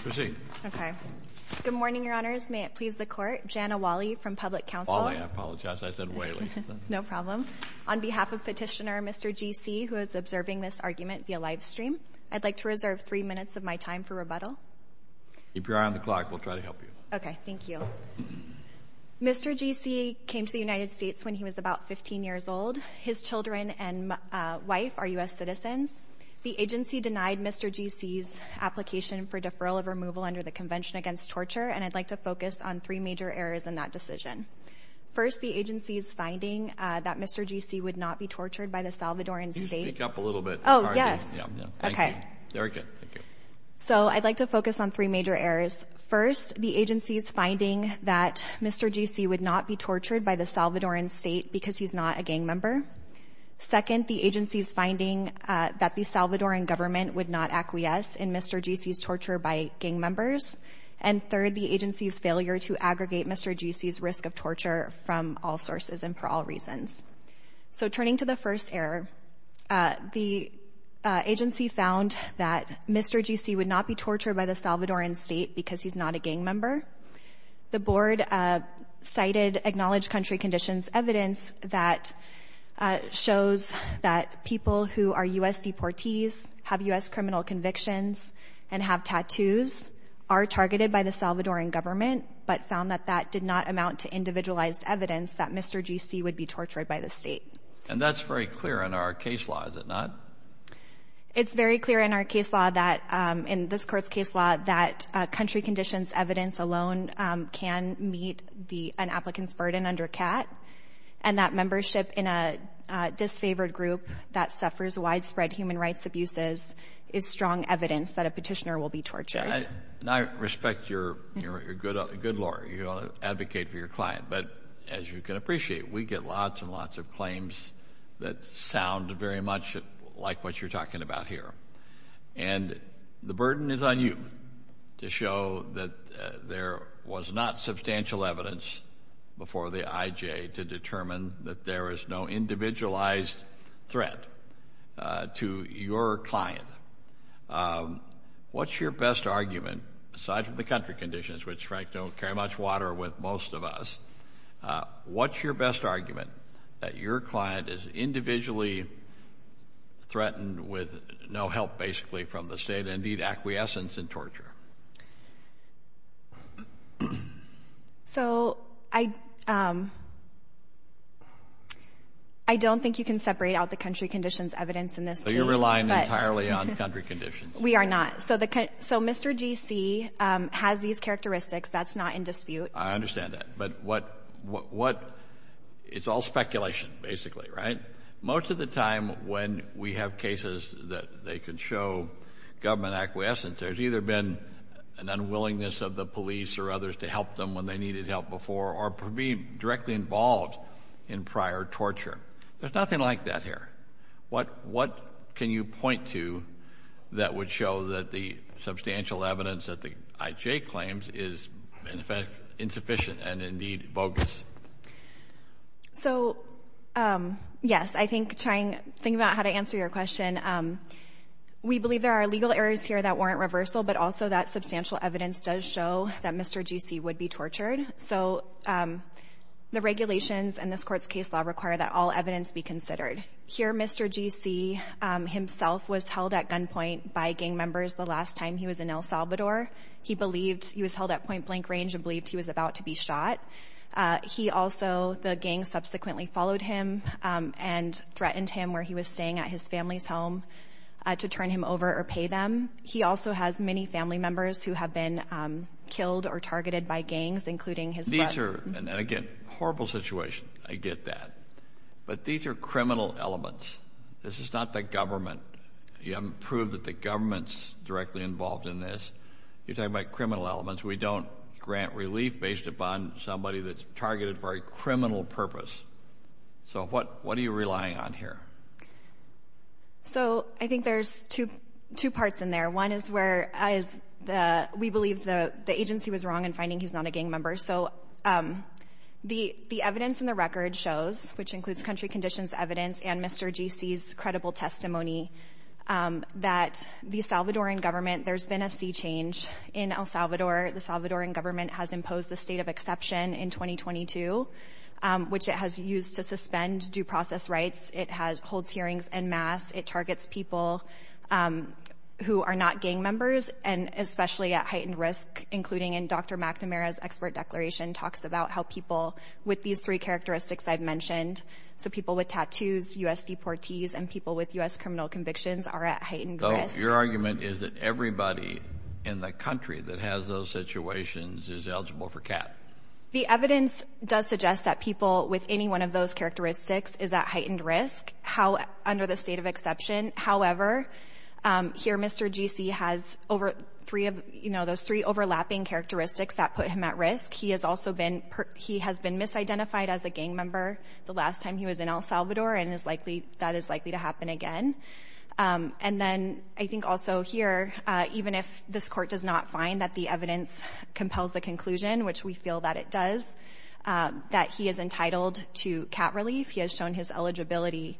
Mr. G.C. came to the United States when he was about 15 years old. His children and wife are U.S. citizens. The agency denied Mr. G.C.'s application for deferral of removal under the Convention Against Torture, and I'd like to focus on three major errors in that decision. First, the agency's finding that Mr. G.C. would not be tortured by the Salvadoran state because he's not a gang member. Second, the agency's finding that Mr. G.C. would not be the Salvadoran government would not acquiesce in Mr. G.C.'s torture by gang members. And third, the agency's failure to aggregate Mr. G.C.'s risk of torture from all sources and for all reasons. So turning to the first error, the agency found that Mr. G.C. would not be tortured by the Salvadoran state because he's not a gang member. The Board cited Acknowledged Country Conditions evidence that shows that people who are U.S. deportees, have U.S. criminal convictions, and have tattoos are targeted by the Salvadoran government, but found that that did not amount to individualized evidence that Mr. G.C. would be tortured by the state. And that's very clear in our case law, is it not? It's very clear in our case law that, in this Court's case law, that Country Conditions evidence alone can meet an applicant's burden under CAT, and that membership in a disfavored group that suffers widespread human rights abuses is strong evidence that a petitioner will be tortured. And I respect your good law. You want to advocate for your client. But as you can appreciate, we get lots and lots of claims that sound very much like what you're talking about here. And the burden is on you to show that there was not substantial evidence before the I.J. to determine that there is no individualized threat to your client. What's your best argument, aside from the Country Conditions, which, Frank, don't carry much water with most of us, what's your best argument that your client is individually threatened with no help, basically, from the state, and need acquiescence in torture? So I don't think you can separate out the Country Conditions evidence in this case. So you're relying entirely on Country Conditions? We are not. So Mr. G.C. has these characteristics. That's not in dispute. I understand that. But what — it's all speculation, basically, right? Most of the time when we have cases that they can show government acquiescence, there's either been an unwillingness of the police or others to help them when they needed help before or being directly involved in prior torture. There's nothing like that here. What can you point to that would show that the substantial evidence that the I.J. claims is, in effect, insufficient and, indeed, bogus? So, yes, I think trying — thinking about how to answer your question, we believe there are legal errors here that warrant reversal, but also that substantial evidence does show that Mr. G.C. would be tortured. So the regulations in this Court's case law require that all evidence be considered. Here, Mr. G.C. himself was held at gunpoint by gang members the last time he was in El Salvador. He believed — he was held at point-blank range and believed he was about to be shot. He also — the gang subsequently followed him and threatened him where he was staying at his family's home to turn him over or pay them. He also has many family members who have been killed or targeted by gangs, including his brother. These are — and, again, horrible situation. I get that. But these are criminal elements. This is not the government. You haven't proved that the government's directly involved in this. You're talking about criminal elements. We don't grant relief based upon somebody that's targeted for a criminal purpose. So what are you relying on here? So I think there's two parts in there. One is where we believe the agency was wrong in finding he's not a gang member. So the evidence in the record shows, which includes country conditions evidence and Mr. G.C.'s credible testimony, that the Salvadoran government — there's been a sea change in El Salvador. The Salvadoran government has imposed the state of exception in 2022, which it has used to suspend due process rights. It holds hearings en masse. It targets people who are not gang members and especially at heightened risk, including in Dr. McNamara's expert declaration talks about how people with these three characteristics I've mentioned — so people with tattoos, U.S. deportees, and people with U.S. criminal convictions — are at heightened risk. So your argument is that everybody in the country that has those situations is eligible for CAP? The evidence does suggest that people with any one of those characteristics is at heightened risk under the state of exception. However, here Mr. G.C. has those three overlapping characteristics that put him at risk. He has also been — he has been misidentified as a gang member the last time he was in El Salvador and is likely — that is likely to happen again. And then I think also here, even if this Court does not find that the evidence compels the conclusion, which we feel that it does, that he is entitled to CAP relief, he has shown his eligibility,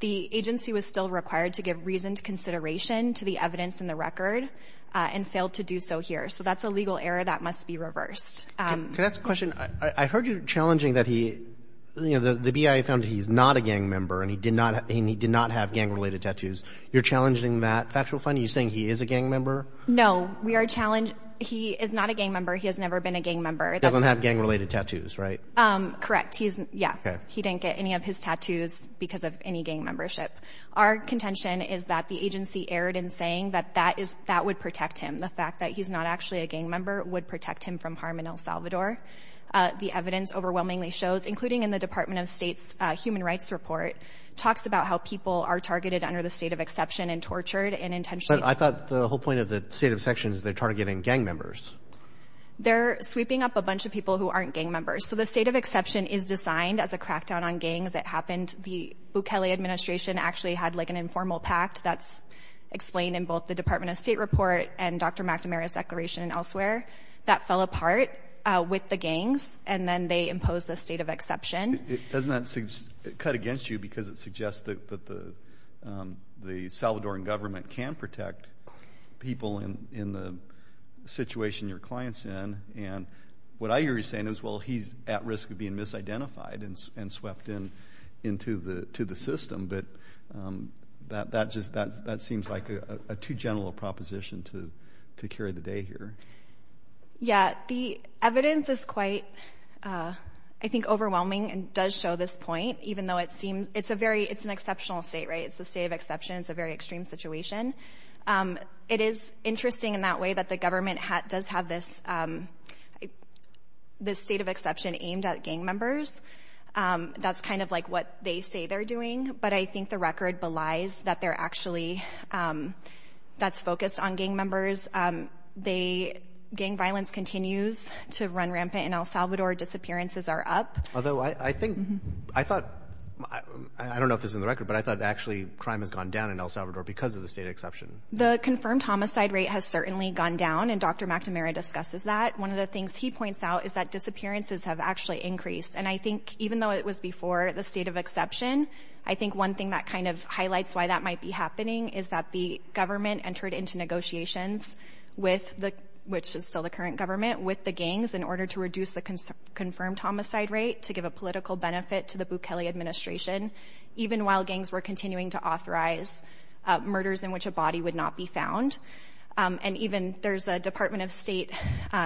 the agency was still required to give reasoned consideration to the evidence in the record and failed to do so here. So that's a legal error that must be reversed. Can I ask a question? I heard you challenging that he — you know, the BIA found he's not a gang member and he did not — and he did not have gang-related tattoos. You're challenging that factual finding? You're saying he is a gang member? No. We are — he is not a gang member. He has never been a gang member. He doesn't have gang-related tattoos, right? Correct. He's — yeah. He didn't get any of his tattoos because of any gang membership. Our contention is that the agency erred in saying that that is — that would protect him. The fact that he's not actually a gang member would protect him from harm in El Salvador. The evidence overwhelmingly shows, including in the Department of State's Human Rights Report, talks about how people are targeted under the state of exception and tortured and intentionally — But I thought the whole point of the state of exception is they're targeting gang members. They're sweeping up a bunch of people who aren't gang members. So the state of exception is designed as a crackdown on gangs. It happened — the Bukele administration actually had, like, an informal pact that's explained in both the Department of State report and Dr. McNamara's declaration and elsewhere that fell apart with the gangs, and then they imposed the state of exception. Doesn't that cut against you because it suggests that the Salvadoran government can protect people in the situation your client's in? And what I hear you saying is, well, he's at risk of being misidentified and swept into the system. But that just — that seems like a too gentle a proposition to carry the day here. Yeah. The evidence is quite, I think, overwhelming and does show this point, even though it seems — it's a very — it's an exceptional state, right? It's the state of exception. It's a very extreme situation. It is interesting in that way that the government does have this state of exception aimed at gang members. That's kind of, like, what they say they're doing. But I think the record belies that they're actually — that's focused on gang members. They — gang violence continues to run rampant in El Salvador. Disappearances are up. Although I think — I thought — I don't know if this is in the record, but I thought actually crime has gone down in El Salvador because of the state of exception. The confirmed homicide rate has certainly gone down, and Dr. McNamara discusses that. One of the things he points out is that disappearances have actually increased. And I think even though it was before the state of exception, I think one thing that kind of highlights why that might be happening is that the government entered into negotiations with the — which is still the current government — with the gangs in order to reduce the confirmed homicide rate to give a political benefit to the Bukele administration, even while gangs were continuing to authorize murders in which a body would not be found. And even there's a Department of State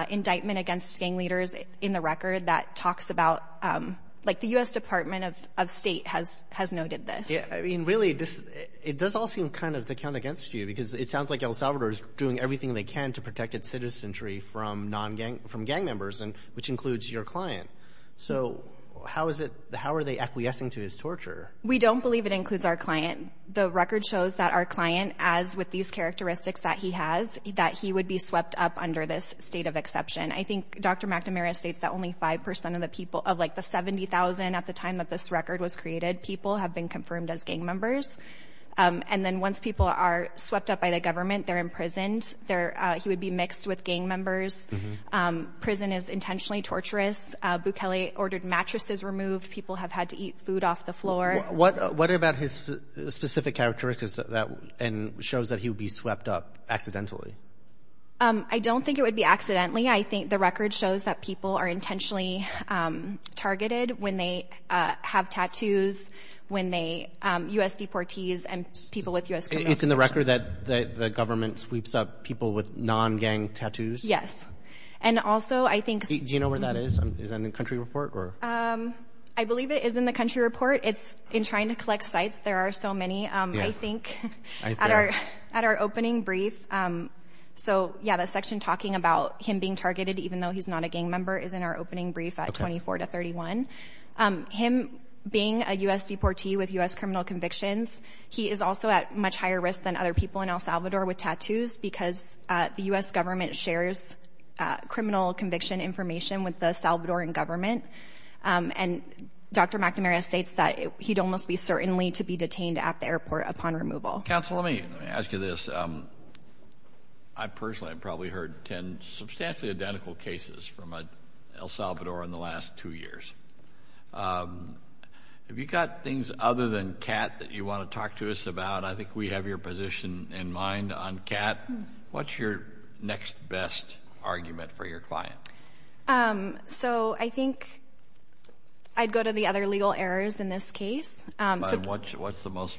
indictment against gang leaders in the record that talks about — like, the U.S. Department of State has noted this. Yeah. I mean, really, this — it does all seem kind of to count against you because it sounds like El Salvador is doing everything they can to protect its citizenry from non-gang — from gang members, which includes your client. So how is it — how are they acquiescing to his torture? We don't believe it includes our client. The record shows that our client, as with these characteristics that he has, that he would be swept up under this state of exception. I think Dr. McNamara states that only 5 percent of the people — of, like, the 70,000, at the time that this record was created, people have been confirmed as gang members. And then once people are swept up by the government, they're imprisoned. They're — he would be mixed with gang members. Prison is intentionally torturous. Bukele ordered mattresses removed. People have had to eat food off the floor. What about his specific characteristics that — and shows that he would be swept up accidentally? I don't think it would be accidentally. I think the record shows that people are intentionally targeted when they have tattoos, when they — U.S. deportees and people with U.S. credentials. It's in the record that the government sweeps up people with non-gang tattoos? Yes. And also, I think — Do you know where that is? Is that in the country report or — I believe it is in the country report. It's in trying to collect sites. There are so many. I think at our opening brief — so, yeah, the section talking about him being targeted, even though he's not a gang member, is in our opening brief at 24 to 31. Him being a U.S. deportee with U.S. criminal convictions, he is also at much higher risk than other people in El Salvador with tattoos because the U.S. government shares criminal conviction information with the Salvadoran government. And Dr. McNamara states that he'd almost be certainly to be upon removal. Counsel, let me ask you this. I, personally, have probably heard 10 substantially identical cases from El Salvador in the last two years. Have you got things other than Kat that you want to talk to us about? I think we have your position in mind on Kat. What's your next best argument for your client? So, I think I'd go to the other legal errors in this case. What's the most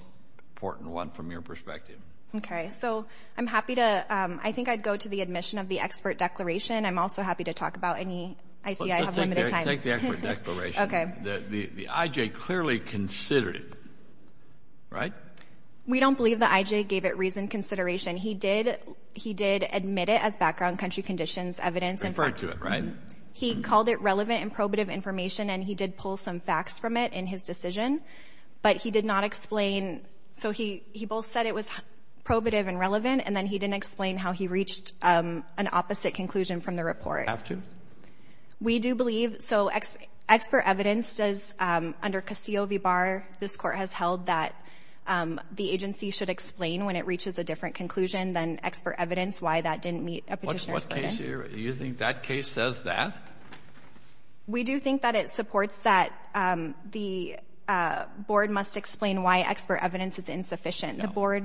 important one from your perspective? Okay. So, I'm happy to — I think I'd go to the admission of the expert declaration. I'm also happy to talk about any — I see I have limited time. Take the expert declaration. Okay. The I.J. clearly considered it, right? We don't believe the I.J. gave it reasoned consideration. He did admit it as background country conditions evidence. Referred to it, right? He called it relevant and probative information, and he did pull some facts from it in his decision. But he did not explain — so, he both said it was probative and relevant, and then he didn't explain how he reached an opposite conclusion from the report. Have to? We do believe — so, expert evidence does — under Castillo v. Barr, this Court has held that the agency should explain when it reaches a different conclusion than expert evidence why that didn't meet a Petitioner's plan. You think that case says that? We do think that it supports that the board must explain why expert evidence is insufficient. The board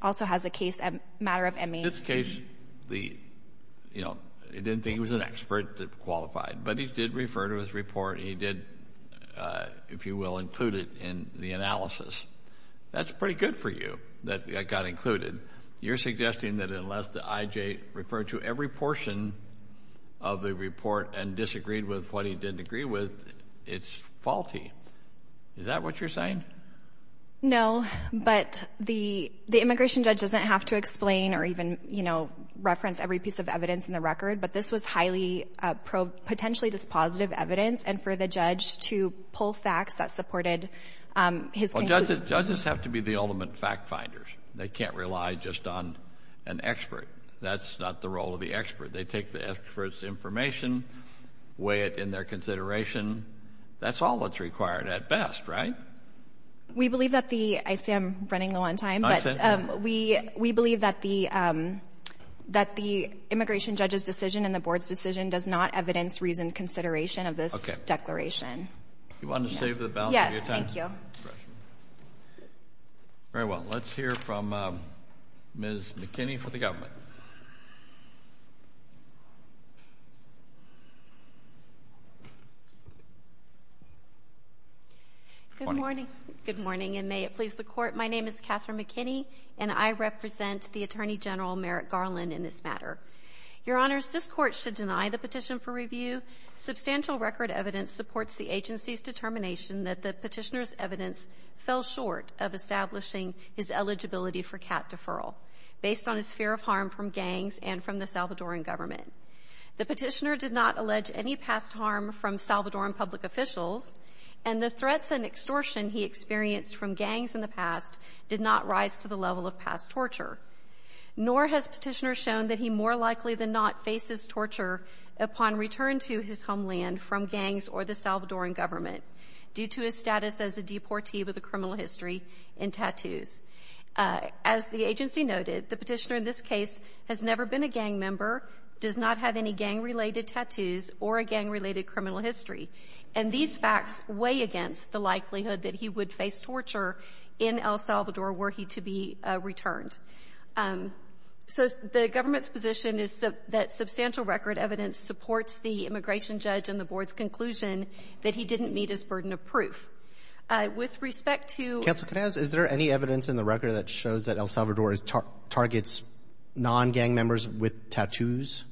also has a case, a matter of — In this case, the — you know, he didn't think it was an expert that qualified, but he did refer to his report, and he did, if you will, include it in the analysis. That's pretty good for you that that got included. You're suggesting that unless the I.J. referred to every portion of the report and disagreed with what he didn't agree with, it's faulty. Is that what you're saying? No, but the immigration judge doesn't have to explain or even, you know, reference every piece of evidence in the record, but this was highly potentially dispositive evidence, and for the judge to pull facts that supported his conclusion — Judges have to be the ultimate fact-finders. They can't rely just on an expert. That's not the role of the expert. They take the expert's information, weigh it in their consideration. That's all that's required at best, right? We believe that the — I see I'm running low on time, but — I see. We believe that the immigration judge's decision and the board's decision does not evidence reasoned consideration of this declaration. You want to save the balance of your time? Yes, thank you. Very well. Let's hear from Ms. McKinney for the government. Good morning. Good morning, and may it please the Court. My name is Catherine McKinney, and I represent the Attorney General Merrick Garland in this matter. Your Honors, this Court should deny the petition for review. Substantial record evidence supports the agency's determination that the Petitioner's evidence fell short of establishing his eligibility for CAT deferral based on his fear of harm from gangs and from the Salvadoran government. The Petitioner did not allege any past harm from Salvadoran public officials, and the threats and extortion he experienced from gangs in the past did not rise to the level of past torture, nor has Petitioner shown that he more likely than not faces torture upon return to his homeland from gangs or the Salvadoran government due to his status as a deportee with a criminal history and tattoos. As the agency noted, the Petitioner in this case has never been a gang member, does not have any gang-related tattoos, or a gang-related criminal history. And these facts weigh against the likelihood that he would face torture in El Salvador were he to be returned. So the government's position is that substantial record evidence supports the immigration judge and the Board's conclusion that he didn't meet his burden of proof. With respect to— Counsel, can I ask, is there any evidence in the record that shows that El Salvador targets non-gang members with tattoos?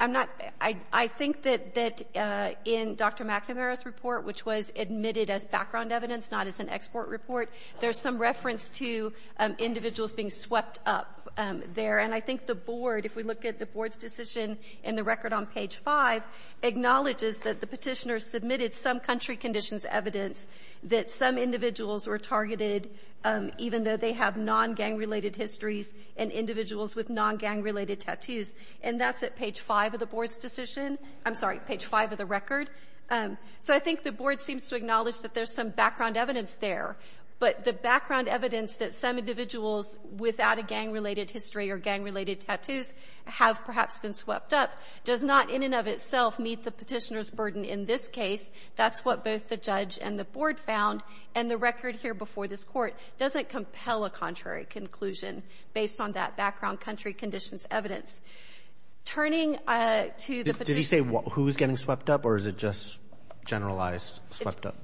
I'm not—I think that in Dr. McNamara's report, which was admitted as background evidence, not as an export report, there's some reference to individuals being swept up there. And I think the Board, if we look at the Board's decision in the record on page 5, acknowledges that the Petitioner submitted some country conditions evidence that some individuals were targeted even though they have non-gang-related histories and individuals with non-gang-related tattoos. And that's at page 5 of the Board's decision. I'm sorry, page 5 of the record. So I think the Board seems to acknowledge that there's some background evidence there. But the background evidence that some individuals without a gang-related history or gang-related tattoos have perhaps been swept up does not in and of itself meet the Petitioner's burden in this case. That's what both the judge and the Board found. And the record here before this Court doesn't compel a contrary conclusion based on that background country conditions evidence. Turning to the Petitioner— Did he say who was getting swept up, or is it just generalized swept up?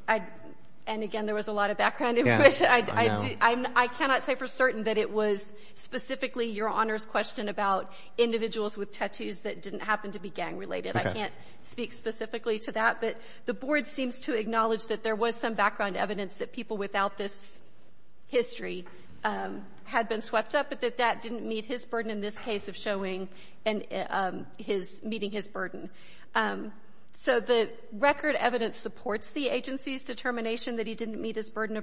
And again, there was a lot of background information. Yes, I know. I cannot say for certain that it was specifically Your Honor's question about individuals with tattoos that didn't happen to be gang-related. I can't speak specifically to that. But the Board seems to acknowledge that there was some background evidence that people without this history had been swept up, but that that didn't meet his burden in this case of showing and his — meeting his burden. So the record evidence supports the agency's determination that he didn't meet his conclusion.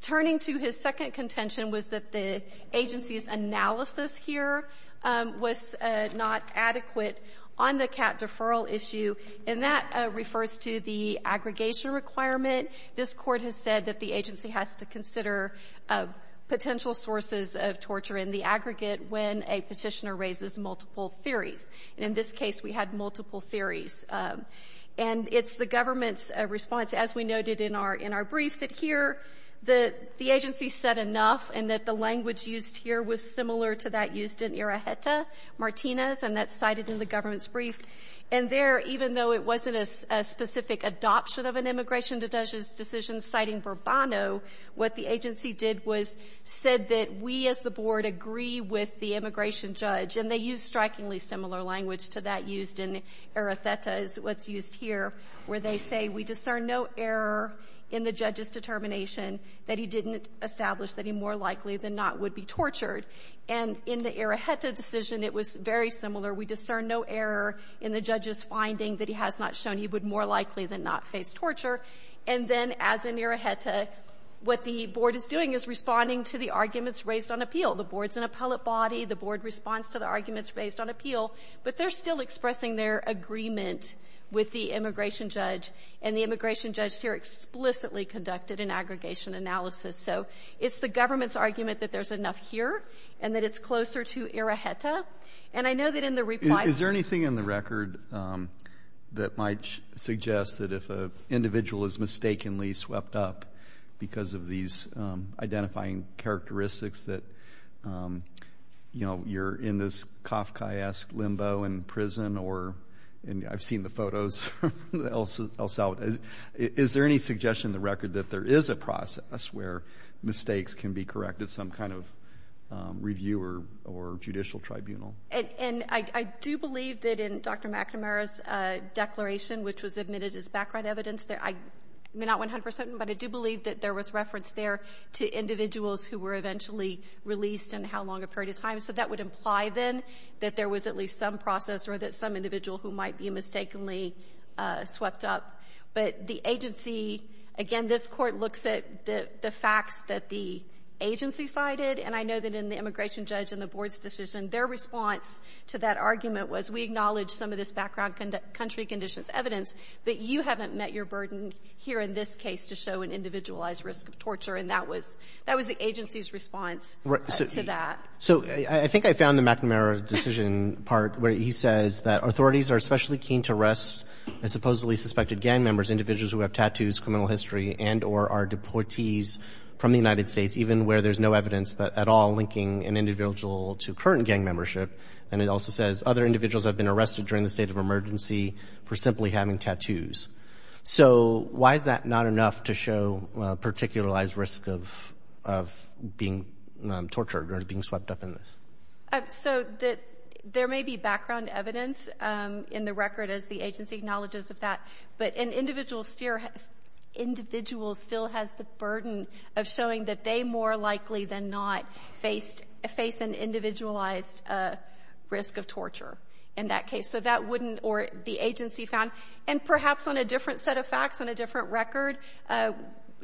Turning to his second contention was that the agency's analysis here was not adequate on the cat deferral issue, and that refers to the aggregation requirement. This Court has said that the agency has to consider potential sources of torture in the aggregate when a Petitioner raises multiple theories. And in this case, we had multiple theories. And it's the government's response, as we noted in our brief, that here the agency said enough and that the language used here was similar to that used in Iraheta, Martinez, and that's cited in the government's brief. And there, even though it wasn't a specific adoption of an immigration decision citing Bourbano, what the agency did was said that we as the Board agree with the immigration judge. And they used strikingly similar language to that used in Iraheta is what's used here, where they say we discern no error in the judge's determination that he didn't establish that he more likely than not would be tortured. And in the Iraheta decision, it was very similar. We discern no error in the judge's finding that he has not shown he would more likely than not face torture. And then, as in Iraheta, what the Board is doing is responding to the arguments raised on appeal. The Board's an appellate body. The Board responds to the arguments raised on appeal. But they're still expressing their agreement with the immigration judge. And the immigration judge here explicitly conducted an aggregation analysis. So it's the government's argument that there's enough here and that it's closer to Iraheta. And I know that in the reply to the record that might suggest that if an individual is mistakenly swept up because of these identifying characteristics that, you know, you're in this Kafkaesque limbo in prison or, and I've seen the photos. Is there any suggestion in the record that there is a process where mistakes can be corrected, some kind of review or judicial tribunal? And I do believe that in Dr. McNamara's declaration, which was admitted as background evidence, I'm not 100 percent, but I do believe that there was reference there to individuals who were eventually released and how long a period of time. So that would imply, then, that there was at least some process or that some individual who might be mistakenly swept up. But the agency, again, this Court looks at the facts that the agency cited. And I know that in the immigration judge and the Board's decision, their response to that argument was, we acknowledge some of this background country conditions evidence, but you haven't met your burden here in this case to show an individualized risk of torture. And that was the agency's response to that. So I think I found the McNamara decision part where he says that authorities are especially keen to arrest supposedly suspected gang members, individuals who have tattoos, criminal history, and or are deportees from the United States, even where there's no evidence at all linking an individual to current gang membership. And it also says other individuals have been arrested during the state of emergency for simply having tattoos. So why is that not enough to show a particularized risk of being tortured or being swept up in this? So that there may be background evidence in the record, as the agency acknowledges of that. But an individual still has the burden of showing that they more likely than not face an individualized risk of torture in that case. Or the agency found. And perhaps on a different set of facts, on a different record,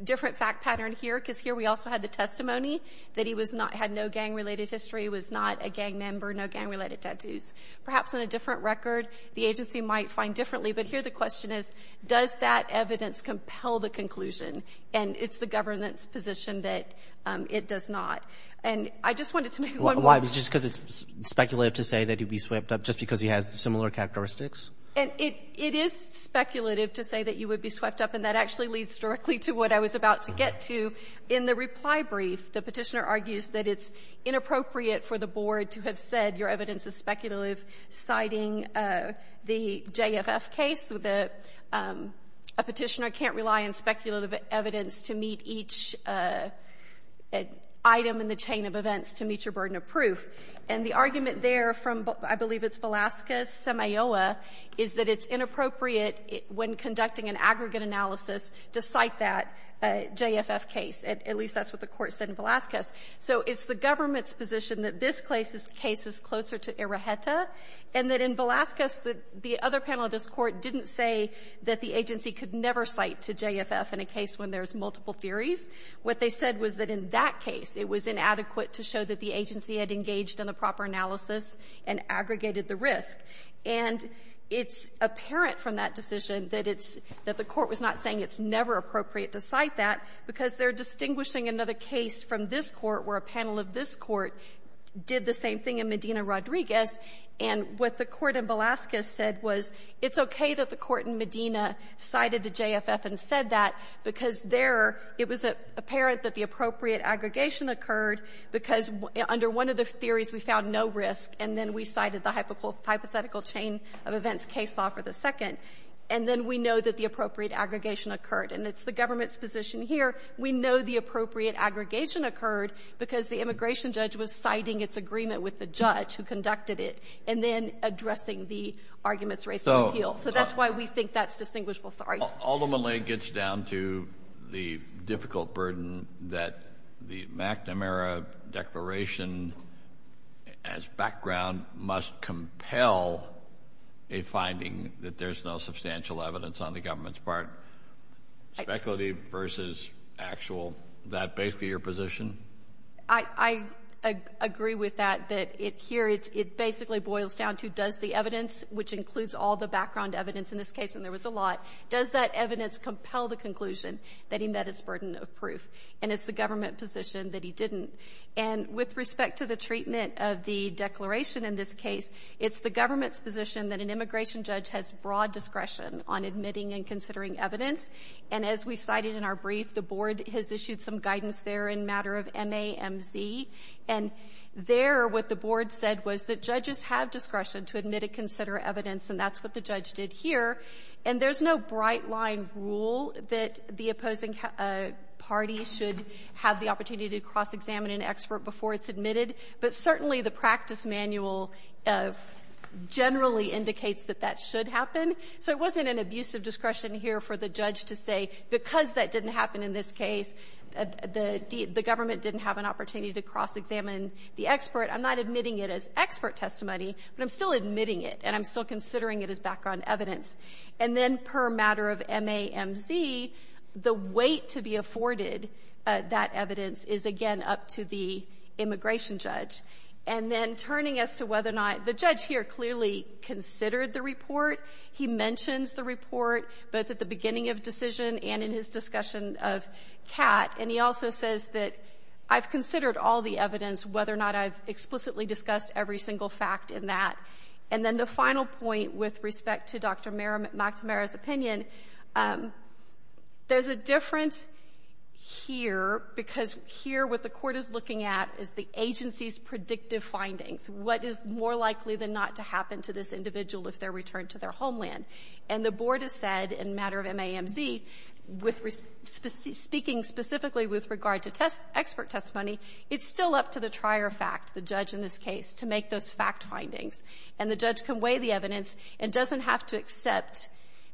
different fact pattern here, because here we also had the testimony that he had no gang-related history, was not a gang member, no gang-related tattoos. Perhaps on a different record, the agency might find differently. But here the question is, does that evidence compel the conclusion? And it's the government's position that it does not. And I just wanted to make one point. Just because it's speculative to say that he'd be swept up just because he has similar characteristics? And it is speculative to say that you would be swept up. And that actually leads directly to what I was about to get to. In the reply brief, the Petitioner argues that it's inappropriate for the Board to have said your evidence is speculative, citing the JRF case. A Petitioner can't rely on speculative evidence to meet each item in the chain of events to meet your burden of proof. And the argument there from I believe it's Velazquez-Semilloa is that it's inappropriate when conducting an aggregate analysis to cite that JFF case. At least that's what the Court said in Velazquez. So it's the government's position that this case is closer to Iraheta, and that in Velazquez, the other panel of this Court didn't say that the agency could never cite to JFF in a case when there's multiple theories. What they said was that in that case, it was inadequate to show that the agency had engaged in a proper analysis and aggregated the risk. And it's apparent from that decision that it's — that the Court was not saying it's never appropriate to cite that because they're distinguishing another case from this Court where a panel of this Court did the same thing in Medina-Rodriguez. And what the Court in Velazquez said was it's okay that the Court in Medina cited to JFF and said that because there it was apparent that the appropriate aggregation occurred because under one of the theories, we found no risk, and then we cited the hypothetical chain of events case law for the second. And then we know that the appropriate aggregation occurred, and it's the government's position here. We know the appropriate aggregation occurred because the immigration judge was citing its agreement with the judge who conducted it and then addressing the arguments raised in the appeal. So that's why we think that's distinguishable. Ultimately, it gets down to the difficult burden that the McNamara declaration as background must compel a finding that there's no substantial evidence on the government's part. Speculative versus actual, is that basically your position? I agree with that, that here it basically boils down to does the evidence, which includes all the background evidence in this case, and there was a lot, does that evidence compel the conclusion that he met his burden of proof? And it's the government position that he didn't. And with respect to the treatment of the declaration in this case, it's the government's position that an immigration judge has broad discretion on admitting and considering evidence, and as we cited in our brief, the Board has issued some guidance there in matter of MAMZ, and there what the Board said was that judges have discretion to admit and consider evidence, and that's what the judge did here. And there's no bright-line rule that the opposing party should have the opportunity to cross-examine an expert before it's admitted, but certainly the practice manual generally indicates that that should happen. So it wasn't an abuse of discretion here for the judge to say because that didn't happen in this case, the government didn't have an opportunity to cross-examine the expert. I'm not admitting it as expert testimony, but I'm still admitting it, and I'm still considering it as background evidence. And then per matter of MAMZ, the weight to be afforded that evidence is, again, up to the immigration judge. And then turning as to whether or not the judge here clearly considered the report, he mentions the report both at the beginning of decision and in his discussion of Catt, and he also says that I've considered all the evidence, whether or not I've explicitly discussed every single fact in that. And then the final point with respect to Dr. McNamara's opinion, there's a difference here because here what the Court is looking at is the agency's predictive findings, what is more likely than not to happen to this individual if they're returned to their homeland. And the Board has said in a matter of MAMZ, speaking specifically with regard to test expert testimony, it's still up to the trier fact, the judge in this case, to make those fact findings. And the judge can weigh the evidence and doesn't have to accept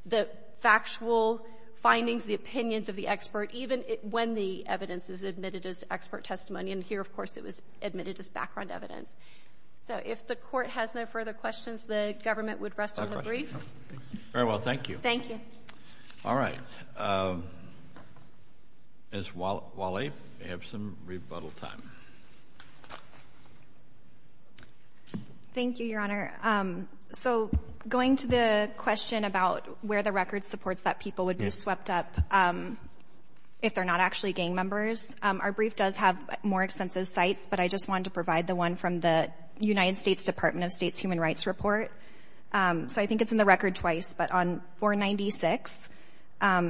the factual findings, the opinions of the expert, even when the evidence is admitted as expert testimony. And here, of course, it was admitted as background evidence. So if the Court has no further questions, the government would rest on the brief. Thank you. Very well, thank you. Thank you. All right. Ms. Walley, you have some rebuttal time. Thank you, Your Honor. So going to the question about where the record supports that people would be swept up if they're not actually gang members, our brief does have more extensive sites, but I just wanted to provide the one from the United States Department of State's Human Rights Report. So I think it's in the record twice, but on 496,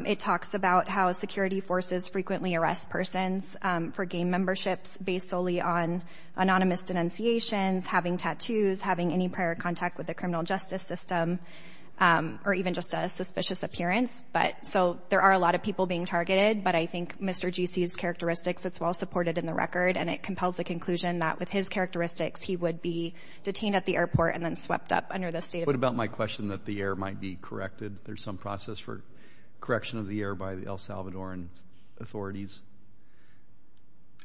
it talks about how security forces frequently arrest persons for gang memberships based solely on anonymous denunciations, having tattoos, having any prior contact with the criminal justice system, or even just a suspicious appearance. But so there are a lot of people being targeted. But I think Mr. G.C.'s characteristics, it's well supported in the record. And it compels the conclusion that with his characteristics, he would be detained at the airport and then swept up under the state of... What about my question that the air might be corrected? There's some process for correction of the air by the El Salvadoran authorities?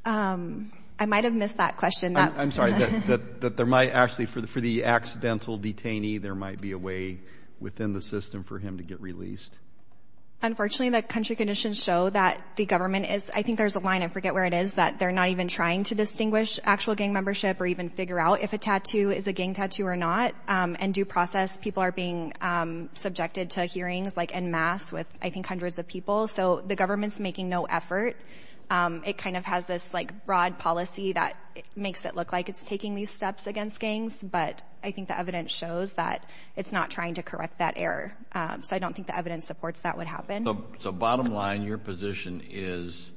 I might have missed that question. I'm sorry, that there might actually, for the accidental detainee, there might be a way within the system for him to get released. Unfortunately, the country conditions show that the government is, I think there's a line, I forget where it is, that they're not even trying to distinguish actual gang membership or even figure out if a tattoo is a gang tattoo or not. And due process, people are being subjected to hearings like en masse with I think hundreds of people. So the government's making no effort. It kind of has this like broad policy that makes it look like it's taking these steps against gangs. But I think the evidence shows that it's not trying to correct that error. So I don't think the evidence supports that would happen. So bottom line, your position is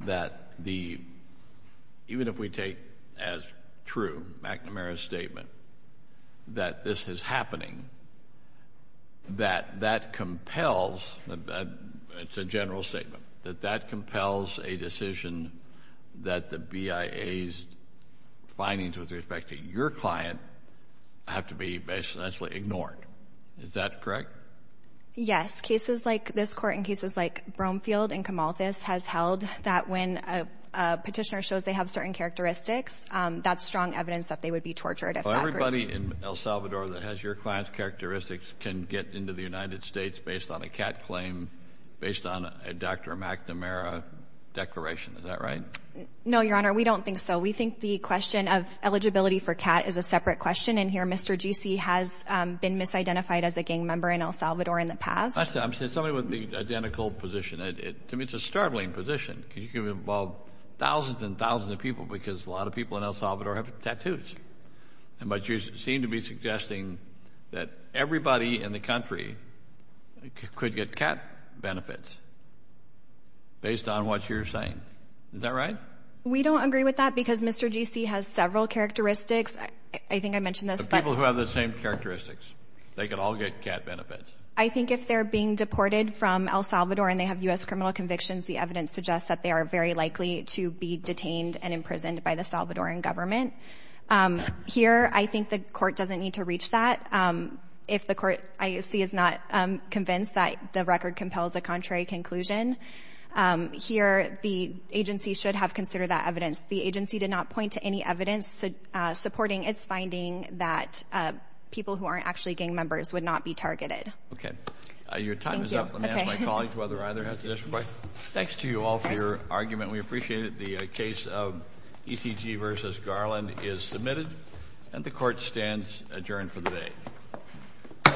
that even if we take as true McNamara's statement that this is happening, that that compels, it's a general statement, that that compels a decision that the BIA's findings with respect to your client have to be basically ignored. Is that correct? Yes. I think in past cases like this court, in cases like Bromfield and Camalthus, has held that when a petitioner shows they have certain characteristics, that's strong evidence that they would be tortured. So everybody in El Salvador that has your client's characteristics can get into the United States based on a CAT claim, based on a Dr. McNamara declaration, is that right? No, Your Honor. We don't think so. We think the question of eligibility for CAT is a separate question. And here, Mr. GC has been misidentified as a gang member in El Salvador in the past. I'm saying something with the identical position. To me, it's a startling position because you can involve thousands and thousands of people because a lot of people in El Salvador have tattoos. And but you seem to be suggesting that everybody in the country could get CAT benefits based on what you're saying. Is that right? We don't agree with that because Mr. GC has several characteristics. I think I mentioned this, but... The people who have the same characteristics, they could all get CAT benefits. I think if they're being deported from El Salvador and they have U.S. criminal convictions, the evidence suggests that they are very likely to be detained and imprisoned by the Salvadoran government. Here, I think the court doesn't need to reach that. If the court I see is not convinced that the record compels a contrary conclusion, here the agency should have considered that evidence. The agency did not point to any evidence supporting its finding that people who aren't actually members would not be targeted. Your time is up. Let me ask my colleagues whether either has a question. Thanks to you all for your argument. We appreciate it. The case of ECG v. Garland is submitted and the court stands adjourned for the day.